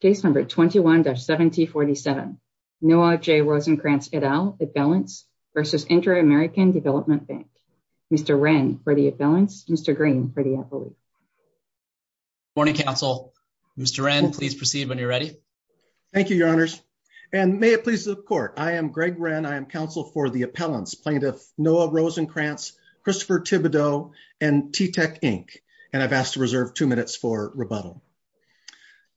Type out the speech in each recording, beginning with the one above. Case number 21-7047. Noah J. Rosenkrantz et al. Appellants versus Inter-American Development Bank. Mr. Wren for the appellants. Mr. Green for the appellate. Morning, counsel. Mr. Wren, please proceed when you're ready. Thank you, your honors, and may it please the court. I am Greg Wren. I am counsel for the appellants plaintiff Noah Rosenkrantz, Christopher Thibodeau, and T-Tech Inc., and I've asked to reserve two minutes for rebuttal.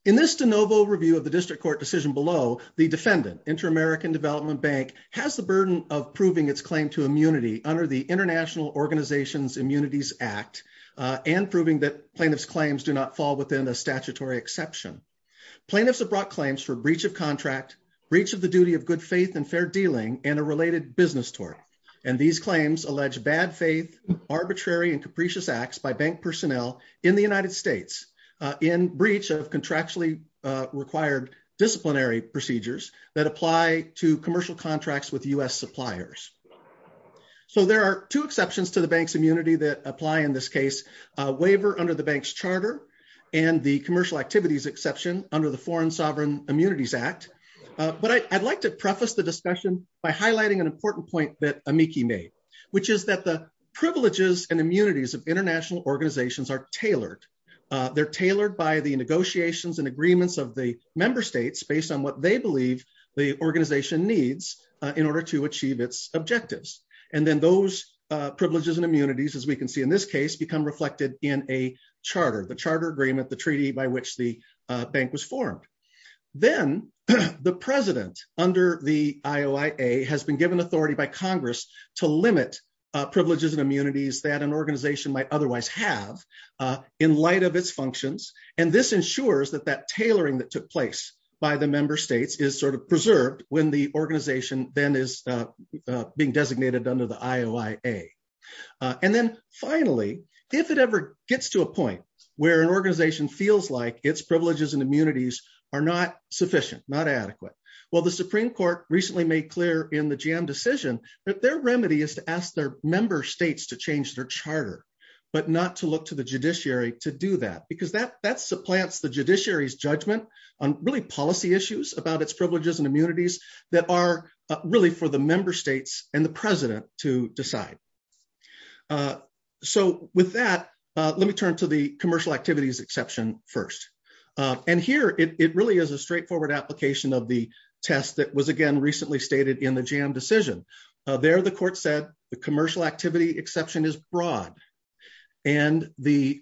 In this de novo review of the district court decision below, the defendant, Inter-American Development Bank, has the burden of proving its claim to immunity under the International Organizations Immunities Act and proving that plaintiff's claims do not fall within a statutory exception. Plaintiffs have brought claims for breach of contract, breach of the duty of good faith and fair dealing, and a related business and these claims allege bad faith, arbitrary and capricious acts by bank personnel in the United States in breach of contractually required disciplinary procedures that apply to commercial contracts with U.S. suppliers. So there are two exceptions to the bank's immunity that apply in this case, a waiver under the bank's charter and the commercial activities exception under the Foreign Sovereign Immunities Act, but I'd like to preface the discussion by Amiki May, which is that the privileges and immunities of international organizations are tailored. They're tailored by the negotiations and agreements of the member states based on what they believe the organization needs in order to achieve its objectives, and then those privileges and immunities, as we can see in this case, become reflected in a charter, the charter agreement, the treaty by which the bank was formed. Then the president, under the IOIA, has been given authority by Congress to limit privileges and immunities that an organization might otherwise have in light of its functions, and this ensures that that tailoring that took place by the member states is sort of preserved when the organization then is being designated under the IOIA. And then finally, if it ever gets to a point where an organization feels like its privileges and immunities are not sufficient, not adequate, well, the Supreme Court recently made clear in the GM decision that their remedy is to ask their member states to change their charter, but not to look to the judiciary to do that, because that supplants the judiciary's judgment on really policy issues about its privileges and immunities that are really for the member states and the president to decide. So with that, let me turn to the commercial activities exception first. And here, it really is a straightforward application of the test that was, again, recently stated in the GM decision. There, the court said the commercial activity exception is broad, and the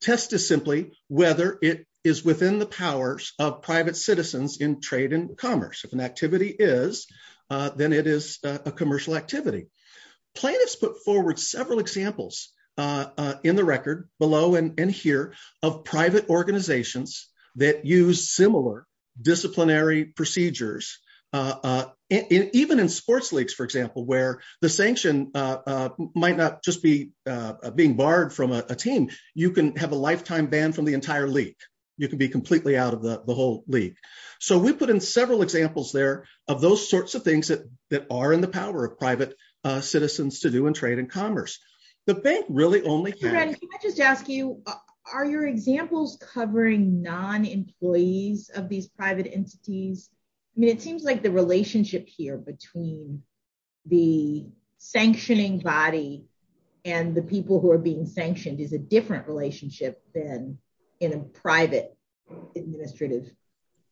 test is simply whether it is within the powers of private citizens in trade and commerce. If an activity is, then it is a commercial activity. Plaintiffs put forward several examples in the record below and here of private organizations that use similar disciplinary procedures, even in sports leagues, for example, where the sanction might not just be being barred from a team. You can have a lifetime ban from the entire league. You can be completely out of the whole league. So we put in several examples there of those sorts of things that are in the power of private citizens to do in trade and commerce. The bank entities. It seems like the relationship here between the sanctioning body and the people who are being sanctioned is a different relationship than in a private administrative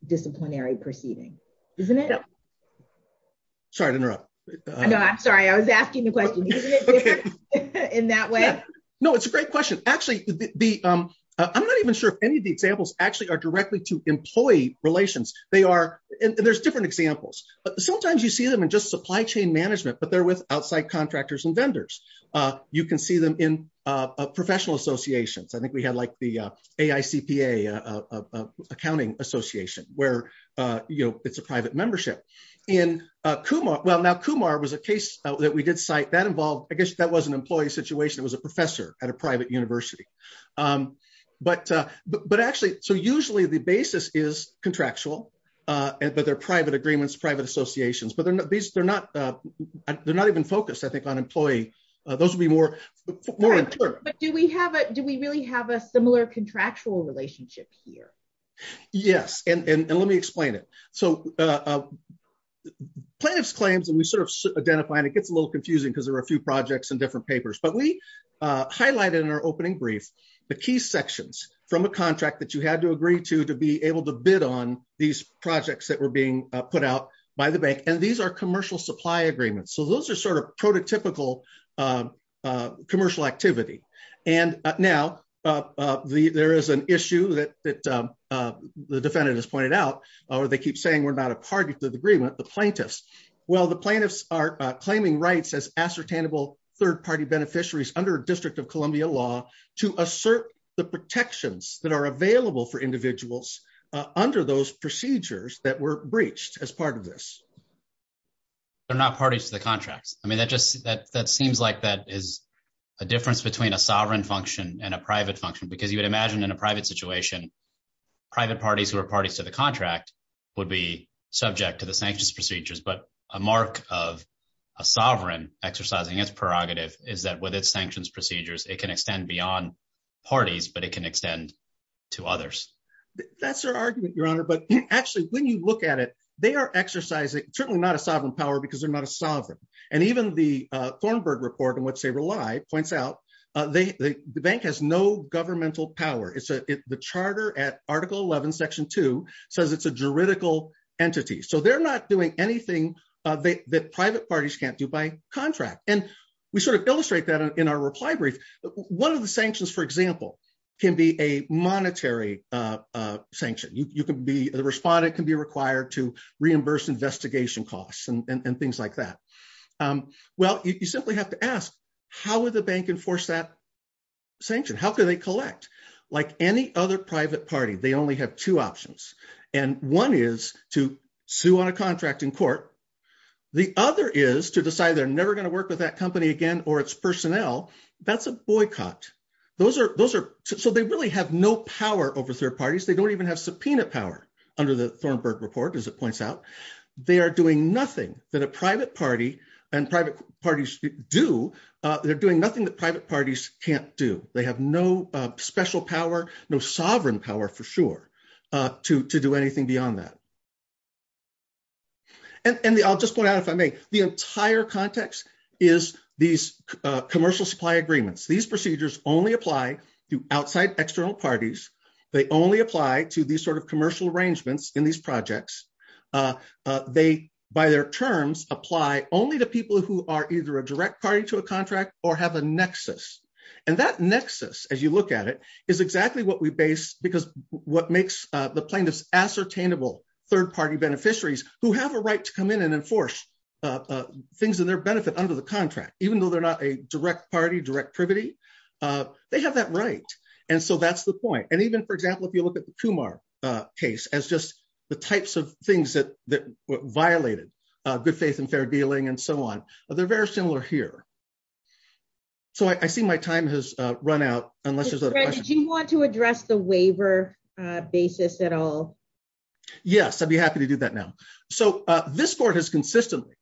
disciplinary proceeding, isn't it? Sorry to interrupt. No, I'm sorry. I was asking the question. In that way. No, it's a great question. Actually, I'm not even sure if any of the examples actually directly to employee relations. There's different examples. Sometimes you see them in just supply chain management, but they're with outside contractors and vendors. You can see them in professional associations. I think we had like the AICPA accounting association where it's a private membership. Now, Kumar was a case that we did cite. I guess that was an employee situation. It was a professor at a private university. But actually, so usually the basis is contractual, but they're private agreements, private associations, but they're not even focused, I think, on employee. Those would be more. But do we really have a similar contractual relationship here? Yes. And let me explain it. So plaintiff's claims and we sort of identify and it gets a little confusing because there are a few projects and different papers, but we highlighted in our opening brief, the key sections from a contract that you had to agree to, to be able to bid on these projects that were being put out by the bank. And these are commercial supply agreements. So those are sort of prototypical commercial activity. And now there is an issue that the defendant has pointed out, or they keep saying we're not a party to the agreement, the plaintiffs. Well, the plaintiffs are claiming rights as ascertainable third-party beneficiaries under district of Columbia law to assert the protections that are available for individuals under those procedures that were breached as part of this. They're not parties to the contracts. I mean, that just, that seems like that is a difference between a sovereign function and a private function because you would imagine in a private situation, private parties who are parties to the contract would be subject to the sanctions procedures, but a mark of a sovereign exercising its prerogative is that with its sanctions procedures, it can extend beyond parties, but it can extend to others. That's their argument, your honor. But actually, when you look at it, they are exercising, certainly not a sovereign power because they're not a sovereign. And even the Thornburg report and what they rely points out, the bank has no governmental power. The charter at article 11, section two says it's a juridical entity. So they're not doing anything that private parties can't do by contract. And we sort of illustrate that in our reply brief. One of the sanctions, for example, can be a monetary sanction. The respondent can be required to reimburse investigation costs and things like that. Well, you simply have to ask, how would the any other private party, they only have two options. And one is to sue on a contract in court. The other is to decide they're never going to work with that company again, or its personnel. That's a boycott. So they really have no power over third parties. They don't even have subpoena power under the Thornburg report, as it points out. They are doing nothing that a private party and private parties do. They're doing nothing that private parties can't do. They have no special power, no sovereign power, for sure, to do anything beyond that. And I'll just point out, if I may, the entire context is these commercial supply agreements. These procedures only apply to outside external parties. They only apply to these sort of commercial arrangements in these projects. They, by their terms, apply only to people who are either a direct party to a contract or have a nexus. And that nexus, as you look at it, is exactly what we base, because what makes the plaintiffs ascertainable third-party beneficiaries who have a right to come in and enforce things in their benefit under the contract, even though they're not a direct party, direct privity, they have that right. And so that's the point. And even, for example, if you look at the Kumar case as just the types of things that violated good faith and fair dealing and so on, they're very similar here. So I see my time has run out, unless there's other questions. Did you want to address the waiver basis at all? Yes, I'd be happy to do that now. So this court has consistently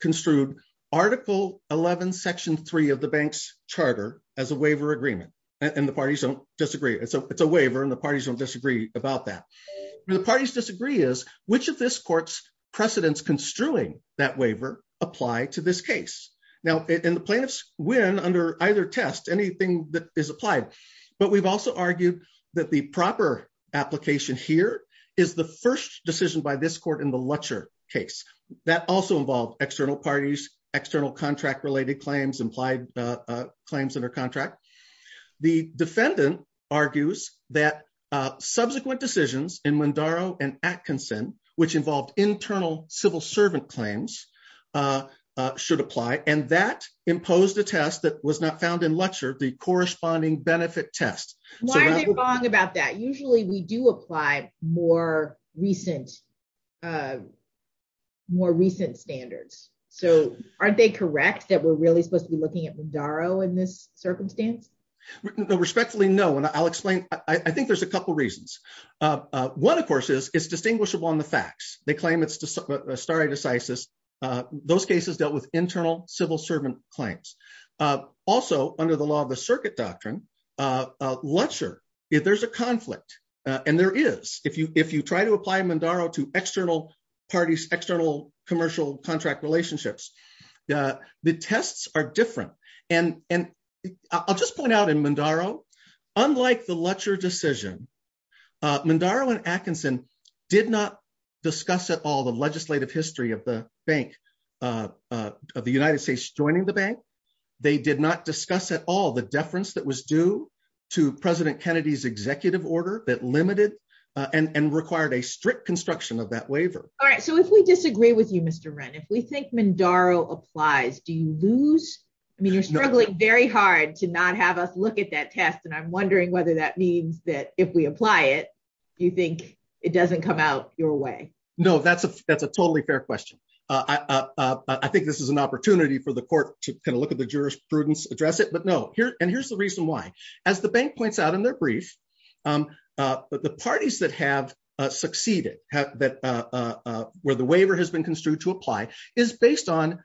construed Article 11, Section 3 of the bank's charter as a waiver agreement. And the parties don't disagree. It's a waiver, and the parties don't disagree about that. The parties disagree is which of this court's precedents construing that waiver apply to this case. Now, and the plaintiffs win under either test, anything that is applied. But we've also argued that the proper application here is the first decision by this court in the Lutcher case. That also involved external parties, external contract-related claims, implied claims under contract. The defendant argues that subsequent decisions in Mondaro and Atkinson, which involved internal civil servant claims, should apply. And that imposed a test that was not found in Lutcher, the corresponding benefit test. Why are they wrong about that? Usually, we do apply more recent standards. So aren't they correct that we're really supposed to be looking at Mondaro in this circumstance? Respectfully, no. And I'll explain. I think there's a couple reasons. One, of course, is it's distinguishable on the facts. They claim it's stare decisis. Those cases dealt with internal civil servant claims. Also, under the law of the circuit doctrine, Lutcher, if there's a conflict, and there is, if you try to apply Mondaro to external parties, the tests are different. And I'll just point out in Mondaro, unlike the Lutcher decision, Mondaro and Atkinson did not discuss at all the legislative history of the bank, of the United States joining the bank. They did not discuss at all the deference that was due to President Kennedy's executive order that limited and required a strict construction of that waiver. All right. So if we disagree with you, Mr. Wren, if we think Mondaro applies, do you lose? I mean, you're struggling very hard to not have us look at that test. And I'm wondering whether that means that if we apply it, you think it doesn't come out your way? No, that's a totally fair question. I think this is an opportunity for the court to kind of look at the jurisprudence, address it, but no. And here's the reason why. As the bank points out in their brief, the parties that have succeeded, where the waiver has been construed to apply, is based on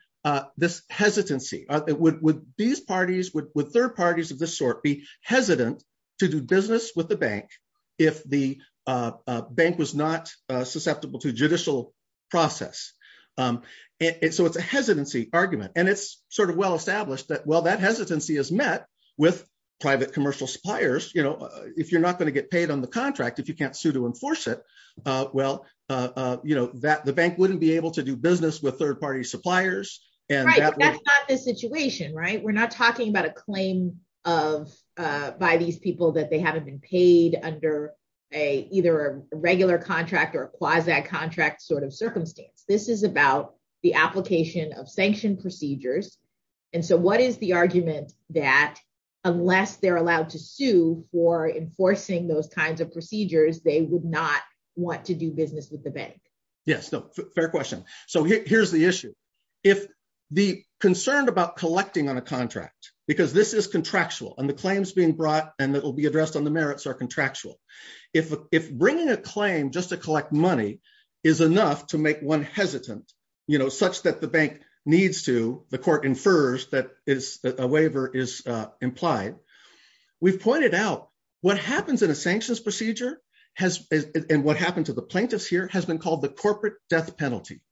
this hesitancy. Would these parties, would third parties of this sort be hesitant to do business with the bank if the bank was not susceptible to judicial process? So it's a hesitancy argument. And it's sort of well-established that, well, that hesitancy is met with private commercial suppliers. If you're not going to get paid on the contract, if you can't sue to enforce it, well, the bank wouldn't be able to do business with third-party suppliers. Right. But that's not the situation, right? We're not talking about a claim by these people that they haven't been paid under either a regular contract or a quasi-contract sort of circumstance. This is about the application of sanctioned procedures. And so what is the argument that unless they're allowed to sue for enforcing those kinds of procedures, they would not want to do business with the bank? Yes. Fair question. So here's the issue. If the concern about collecting on a contract, because this is contractual and the claims being brought and that will be addressed on the merits are contractual. If bringing a claim just to hesitant such that the bank needs to, the court infers that a waiver is implied, we've pointed out what happens in a sanctions procedure and what happened to the plaintiffs here has been called the corporate death penalty.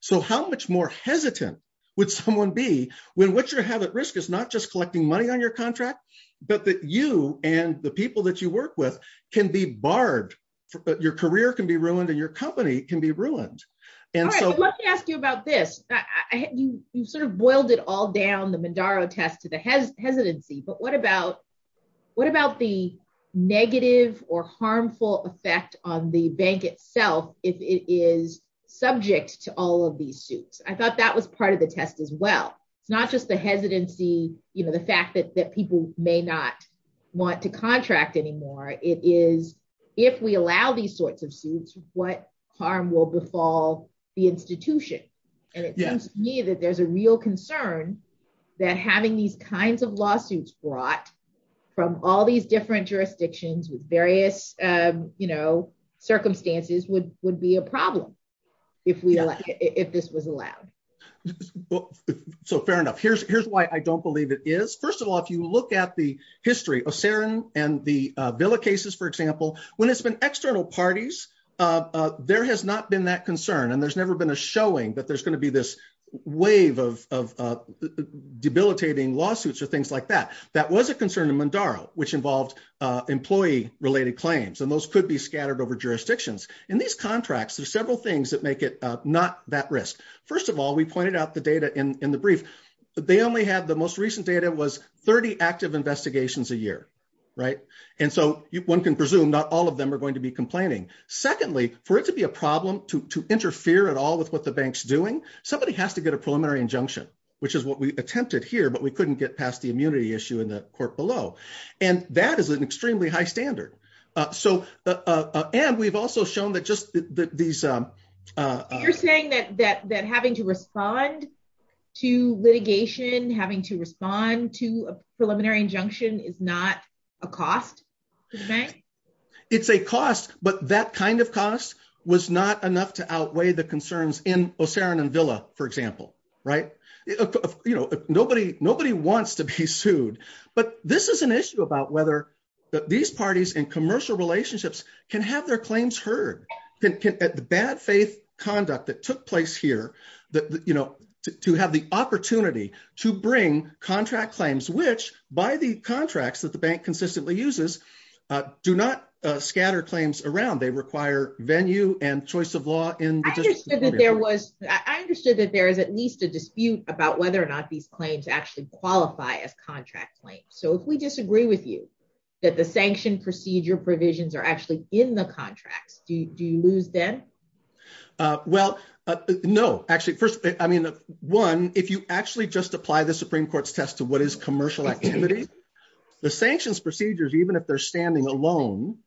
So how much more hesitant would someone be when what you have at risk is not just collecting money on your contract, but that you and the people that work with can be barred, but your career can be ruined and your company can be ruined. And so let me ask you about this. You sort of boiled it all down the Mondaro test to the hesitancy, but what about the negative or harmful effect on the bank itself if it is subject to all of these suits? I thought that was part of the test as well. It's not just the hesitancy, the fact that people may not want to contract anymore. It is, if we allow these sorts of suits, what harm will befall the institution. And it seems to me that there's a real concern that having these kinds of lawsuits brought from all these different jurisdictions with various circumstances would be a problem if this was allowed. Well, so fair enough. Here's why I don't believe it is. First of all, if you look at the history of Sarin and the Villa cases, for example, when it's been external parties, there has not been that concern and there's never been a showing that there's going to be this wave of debilitating lawsuits or things like that. That was a concern in Mondaro, which involved employee related claims and those could be scattered over jurisdictions. In these contracts, there's several things that not that risk. First of all, we pointed out the data in the brief. The most recent data was 30 active investigations a year. And so one can presume not all of them are going to be complaining. Secondly, for it to be a problem to interfere at all with what the bank's doing, somebody has to get a preliminary injunction, which is what we attempted here, but we couldn't get past the immunity issue in the court below. And that is an extremely high standard. And we've also shown that these... You're saying that having to respond to litigation, having to respond to a preliminary injunction is not a cost to the bank? It's a cost, but that kind of cost was not enough to outweigh the concerns in Sarin and Villa, for example. Nobody wants to be sued, but this is an issue about whether these parties in commercial relationships can have their claims heard. The bad faith conduct that took place here, to have the opportunity to bring contract claims, which by the contracts that the bank consistently uses, do not scatter claims around. They require venue and choice of law in... I understood that there is at least a dispute about whether or not these claims actually qualify as contract claims. So if we disagree with you, that the sanction procedure provisions are actually in the contracts. Do you lose them? Well, no. Actually, first, one, if you actually just apply the Supreme Court's test to what is commercial activity, the sanctions procedures, even if they're standing alone,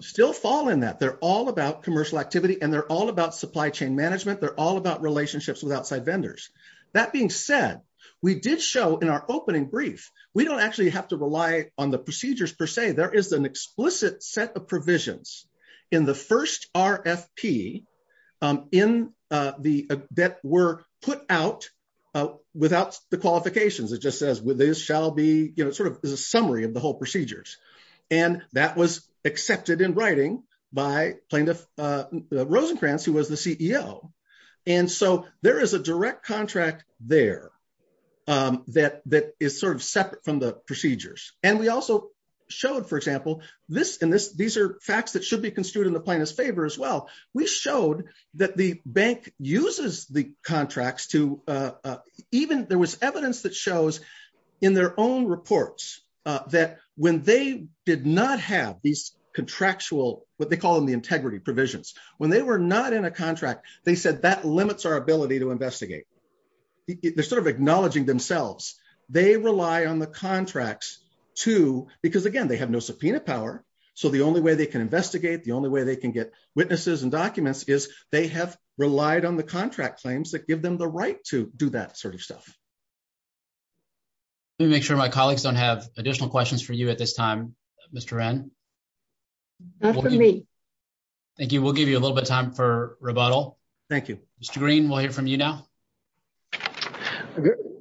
still fall in that. They're all about commercial activity and they're all about supply chain management. They're all about relationships with outside vendors. That being said, we did show in our opening brief, we don't actually have to rely on the procedures per se. There is an explicit set of provisions in the first RFP that were put out without the qualifications. It just says, with this shall be... It's a summary of the whole procedures. And that was accepted in writing by plaintiff Rosencrantz, who was the CEO. And so there is a direct contract there that is sort of separate from the procedures. And we also showed, for example, and these are facts that should be construed in the plaintiff's favor as well. We showed that the bank uses the contracts to... There was evidence that shows in their own reports that when they did not have these contractual, what they call them the integrity provisions, when they were not in a themselves, they rely on the contracts to... Because again, they have no subpoena power. So the only way they can investigate, the only way they can get witnesses and documents is they have relied on the contract claims that give them the right to do that sort of stuff. Let me make sure my colleagues don't have additional questions for you at this time, Mr. Wren. Not for me. Thank you. We'll give you a little bit of time for rebuttal. Thank you. Mr. Green, we'll hear from you now.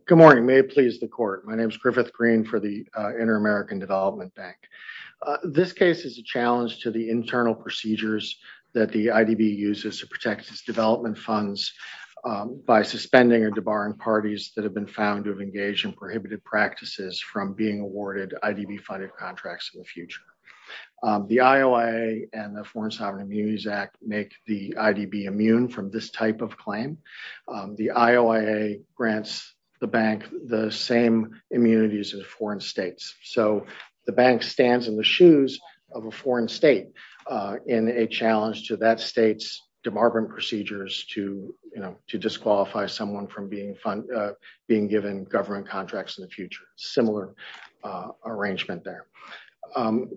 Good morning. May it please the court. My name is Griffith Green for the Inter-American Development Bank. This case is a challenge to the internal procedures that the IDB uses to protect its development funds by suspending or debarring parties that have been found to have engaged in prohibited practices from being awarded IDB-funded contracts in the future. The IOIA and the Foreign Sovereign Immunities Act make the IDB immune from this type claim. The IOIA grants the bank the same immunities as foreign states. So the bank stands in the shoes of a foreign state in a challenge to that state's debarment procedures to disqualify someone from being given government contracts in the future. Similar arrangement there.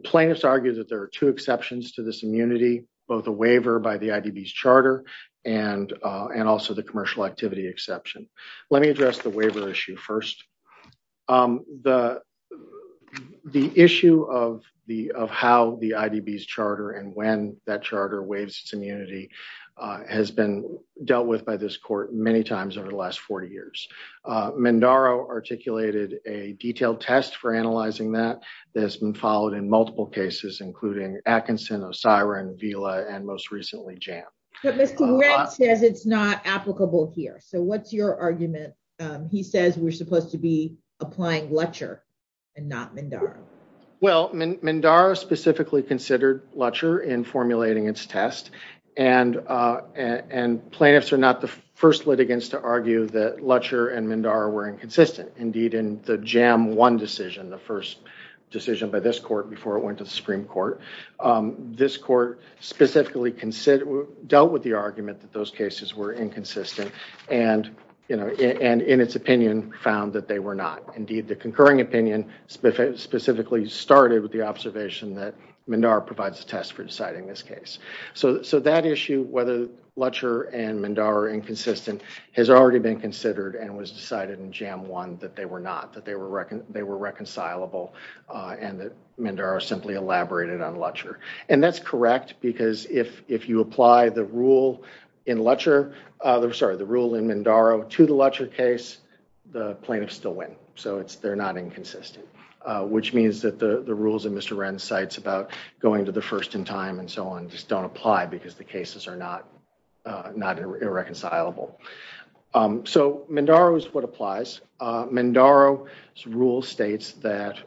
Plaintiffs argue that there are two exceptions to this immunity, both a waiver by the IDB's charter and also the commercial activity exception. Let me address the waiver issue first. The issue of how the IDB's charter and when that charter waives its immunity has been dealt with by this court many times over the last 40 years. Mandaro articulated a detailed test for analyzing that that has been followed in multiple cases, including Atkinson, Osirin, Vila, and most recently JAM. But Mr. Grant says it's not applicable here. So what's your argument? He says we're supposed to be applying Letcher and not Mandaro. Well, Mandaro specifically considered Letcher in formulating its test and plaintiffs are not the first litigants to argue that Letcher and Mandaro were inconsistent. Indeed, in the JAM 1 decision, the first decision by this court before it went to the Supreme Court, this court specifically dealt with the argument that those cases were inconsistent and in its opinion found that they were not. Indeed, the concurring opinion specifically started with the observation that Mandaro provides a test for deciding this case. So that issue, whether Letcher and Mandaro are inconsistent, has already been considered and was decided in JAM 1 that they were not, that they were reconcilable, and that Mandaro simply elaborated on Letcher. And that's correct because if you apply the rule in Mandaro to the Letcher case, the plaintiffs still win. So they're not inconsistent, which means that the rules that Mr. Wren cites about going to the first in time and so on just don't apply because the cases are not irreconcilable. So Mandaro is what applies. Mandaro's rule states that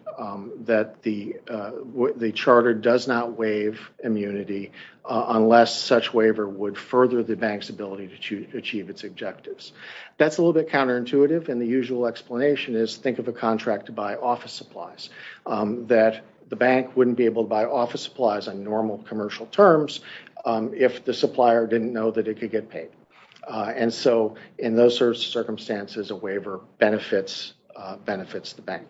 the charter does not waive immunity unless such waiver would further the bank's ability to achieve its objectives. That's a little bit counterintuitive and the usual explanation is think of a contract to buy office supplies, that the bank wouldn't be able to buy office supplies on normal commercial terms if the supplier didn't know that it could get paid. And so in those circumstances, a waiver benefits the bank.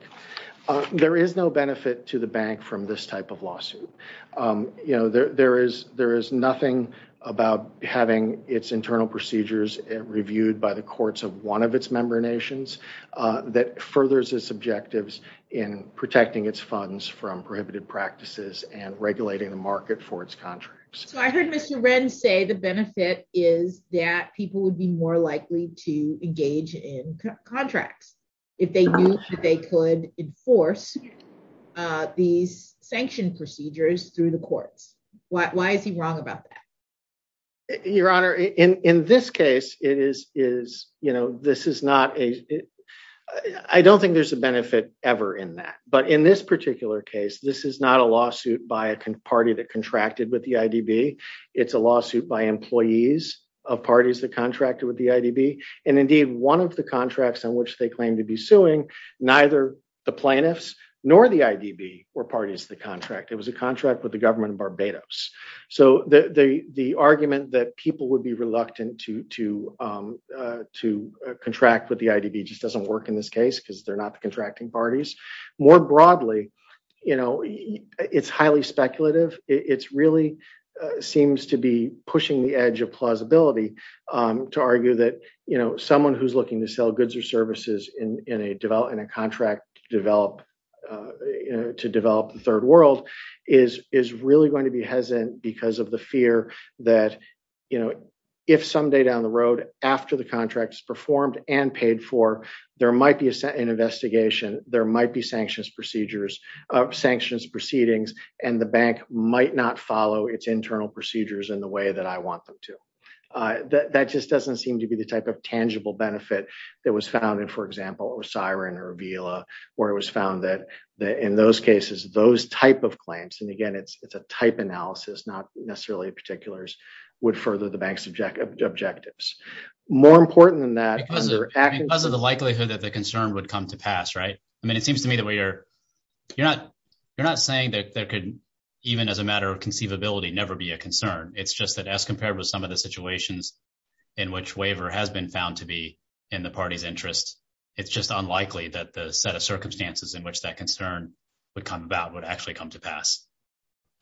There is no benefit to the bank from this type of lawsuit. You know, there is nothing about having its internal procedures reviewed by the courts of one of its member nations that furthers its objectives in protecting its funds from the market for its contracts. So I heard Mr. Wren say the benefit is that people would be more likely to engage in contracts if they knew that they could enforce these sanction procedures through the courts. Why is he wrong about that? Your Honor, in this case, it is, you know, this is not a, I don't think there's a benefit ever in that. But in this particular case, this is not a lawsuit by a party that contracted with the IDB. It's a lawsuit by employees of parties that contracted with the IDB. And indeed, one of the contracts on which they claim to be suing, neither the plaintiffs nor the IDB were parties to the contract. It was a contract with the government of Barbados. So the argument that people would be reluctant to contract with the IDB just doesn't work in this case because they're not the contracting parties. More broadly, you know, it's highly speculative. It's really seems to be pushing the edge of plausibility to argue that, you know, someone who's looking to sell goods or services in a contract to develop the third world is really going to be hesitant because of the fear that, you know, if someday down the road after the contract is performed and paid for, there might be an investigation, there might be sanctions procedures, sanctions proceedings, and the bank might not follow its internal procedures in the way that I want them to. That just doesn't seem to be the type of tangible benefit that was found in, for example, Osirin or Avila, where it was found that in those cases, those type of claims, and again, it's a type analysis, not necessarily particulars, would further the bank's objectives. More important than that. Because of the likelihood that the concern would come to pass, right? I mean, it seems to me that we are, you're not, you're not saying that there could even as a matter of conceivability never be a concern. It's just that as compared with some of the situations in which waiver has been found to be in the party's interest, it's just unlikely that the set of circumstances in which that concern would come about would actually come to pass.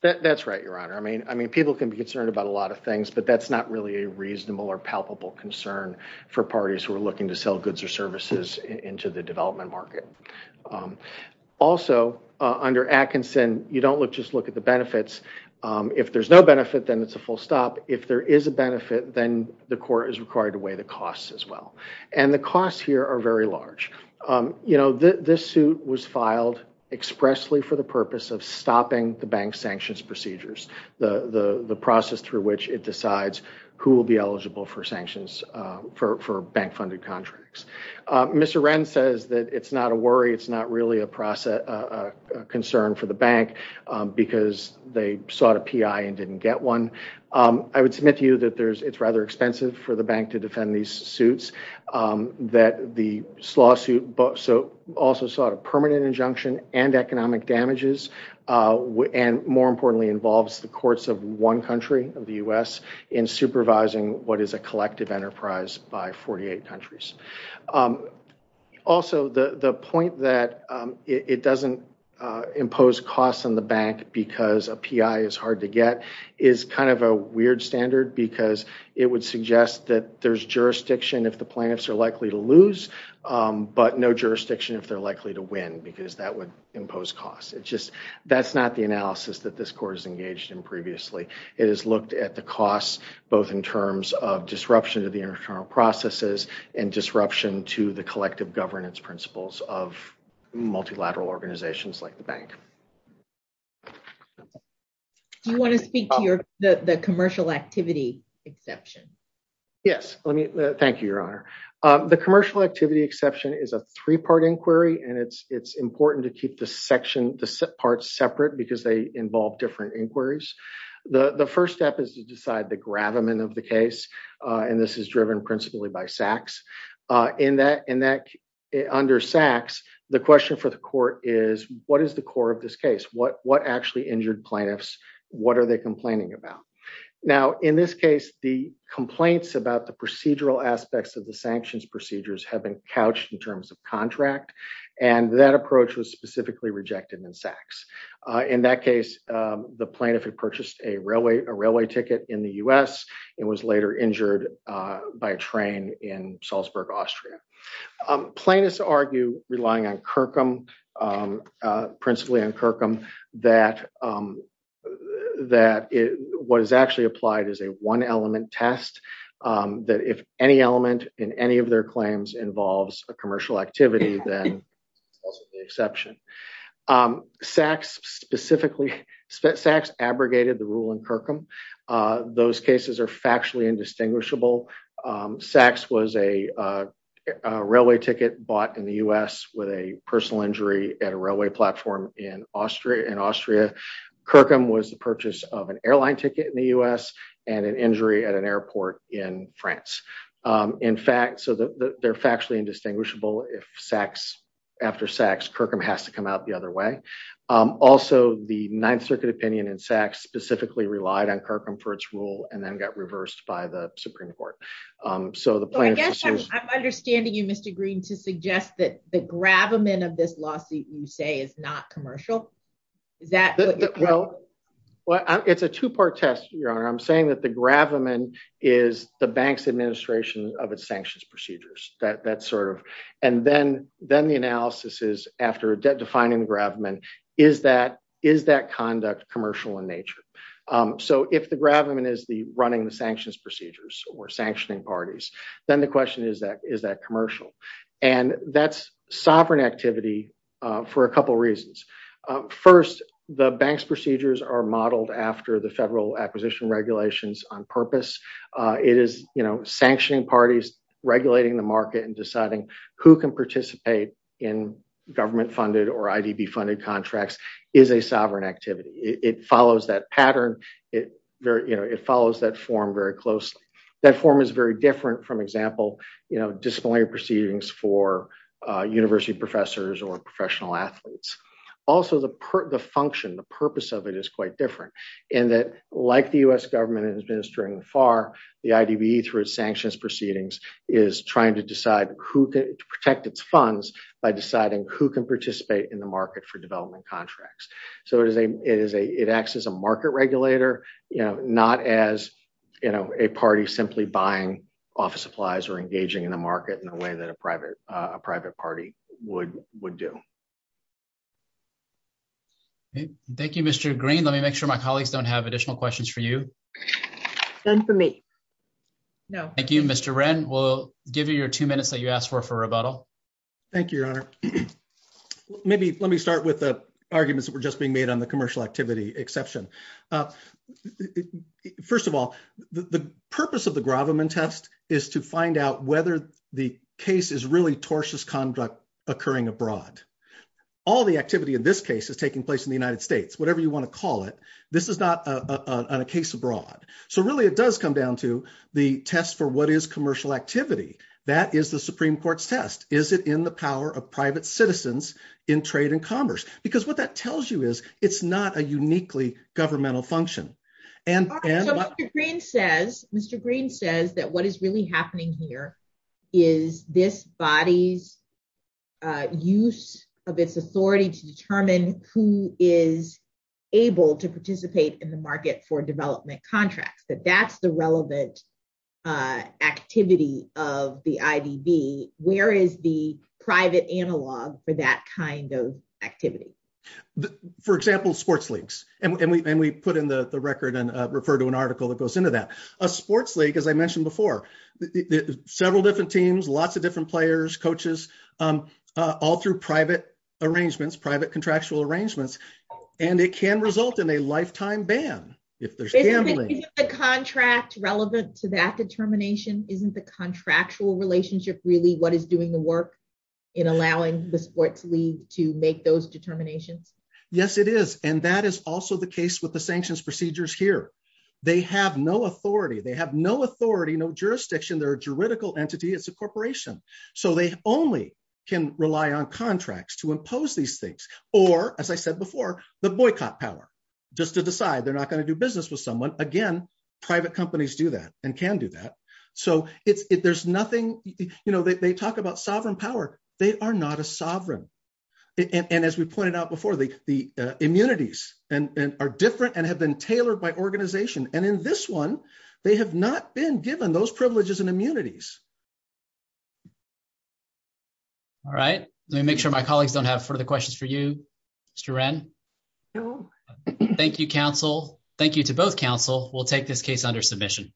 That's right, your honor. I mean, I mean, people can be concerned about a lot of things, but that's not really a reasonable or palpable concern for parties who are looking to sell goods or services into the development market. Also, under Atkinson, you don't just look at the benefits. If there's no benefit, then it's a full stop. If there is a benefit, then the court is required to weigh the costs as well. And the costs here are very large. You know, this suit was filed expressly for the purpose of who will be eligible for sanctions, for bank-funded contracts. Mr. Wren says that it's not a worry. It's not really a process, a concern for the bank because they sought a PI and didn't get one. I would submit to you that there's, it's rather expensive for the bank to defend these suits, that the lawsuit also sought a permanent injunction and economic damages, and more importantly, involves the courts of one country of the U.S. in supervising what is a collective enterprise by 48 countries. Also, the point that it doesn't impose costs on the bank because a PI is hard to get is kind of a weird standard because it would suggest that there's jurisdiction if the plaintiffs are likely to lose, but no jurisdiction if they're likely to win because that would is engaged in previously. It is looked at the costs, both in terms of disruption to the internal processes and disruption to the collective governance principles of multilateral organizations like the bank. Do you want to speak to your, the commercial activity exception? Yes. Let me, thank you, Your Honor. The commercial activity exception is a three-part inquiry and it's, important to keep the section, the parts separate because they involve different inquiries. The first step is to decide the gravamen of the case, and this is driven principally by Sachs. In that, in that, under Sachs, the question for the court is what is the core of this case? What, what actually injured plaintiffs? What are they complaining about? Now, in this case, the complaints about the procedural aspects of the sanctions procedures have been couched in terms of contract, and that approach was specifically rejected in Sachs. In that case, the plaintiff had purchased a railway, a railway ticket in the U.S. and was later injured by a train in Salzburg, Austria. Plaintiffs argue relying on Kirkham, principally on Kirkham, that, that it was actually applied as a one element test, that if any element in any of their claims involves a then it's also the exception. Sachs specifically, Sachs abrogated the rule in Kirkham. Those cases are factually indistinguishable. Sachs was a railway ticket bought in the U.S. with a personal injury at a railway platform in Austria, in Austria. Kirkham was the purchase of an airline ticket in the U.S. and an injury at an airport in France. In fact, so they're factually indistinguishable. If Sachs, after Sachs, Kirkham has to come out the other way. Also, the Ninth Circuit opinion in Sachs specifically relied on Kirkham for its rule and then got reversed by the Supreme Court. So the plaintiffs- I guess I'm understanding you, Mr. Green, to suggest that the gravamen of this lawsuit you say is not commercial. Is that- Well, it's a two-part test, Your Honor. I'm saying that the gravamen is the bank's administration of its sanctions procedures. That's sort of- And then the analysis is, after defining gravamen, is that conduct commercial in nature? So if the gravamen is running the sanctions procedures or sanctioning parties, then the question is, is that commercial? And that's sovereign activity for a couple reasons. First, the bank's procedures are modeled after the federal acquisition regulations on purpose. It is, you know, sanctioning parties, regulating the market, and deciding who can participate in government-funded or IDB-funded contracts is a sovereign activity. It follows that pattern. It very- You know, it follows that form very closely. That form is very different from, example, you know, disciplinary proceedings for university professors or professional athletes. Also, the function, the purpose of it is quite different in that, like the U.S. government administering FAR, the IDB through its sanctions proceedings is trying to decide who can protect its funds by deciding who can participate in the market for development contracts. So it is a- It acts as a market regulator, you know, not as, you know, a party simply buying office supplies or engaging in the market in a way that a private party would do. Thank you, Mr. Green. Let me make sure my colleagues don't have additional questions for you. None for me. No. Thank you, Mr. Wren. We'll give you your two minutes that you asked for for rebuttal. Thank you, Your Honor. Maybe let me start with the arguments that were just being made on the commercial activity exception. First of all, the purpose of the Graviman test is to find out whether the case is really tortious conduct occurring abroad. All the activity in this case is taking place in the United States, whatever you want to call it. This is not on a case abroad. So really, it does come down to the test for what is commercial activity. That is the Supreme Court's test. Is it in the power of private citizens in trade and commerce? Because what that tells you is it's not a uniquely governmental function. Mr. Green says that what is really happening here is this body's use of its authority to determine who is able to participate in the market for development contracts, that that's the relevant activity of the IDB. Where is the private analog for that kind of activity? For example, sports leagues. And we put in the record and refer to an article that goes into that. A sports league, as I mentioned before, several different teams, lots of different players, coaches, all through private contractual arrangements. And it can result in a lifetime ban if there's gambling. Isn't the contract relevant to that determination? Isn't the contractual relationship really what is doing the work in allowing the sports league to make those determinations? Yes, it is. And that is also the case with the sanctions procedures here. They have no authority, no jurisdiction. They're a juridical entity. It's a corporation. They only can rely on contracts to impose these things or, as I said before, the boycott power just to decide they're not going to do business with someone. Again, private companies do that and can do that. They talk about sovereign power. They are not a sovereign. And as we pointed out before, the immunities are different and have been tailored by organization. And in this one, they have not been given those privileges and immunities. All right. Let me make sure my colleagues don't have further questions for you, Mr. Wren. Thank you, counsel. Thank you to both counsel. We'll take this case under submission.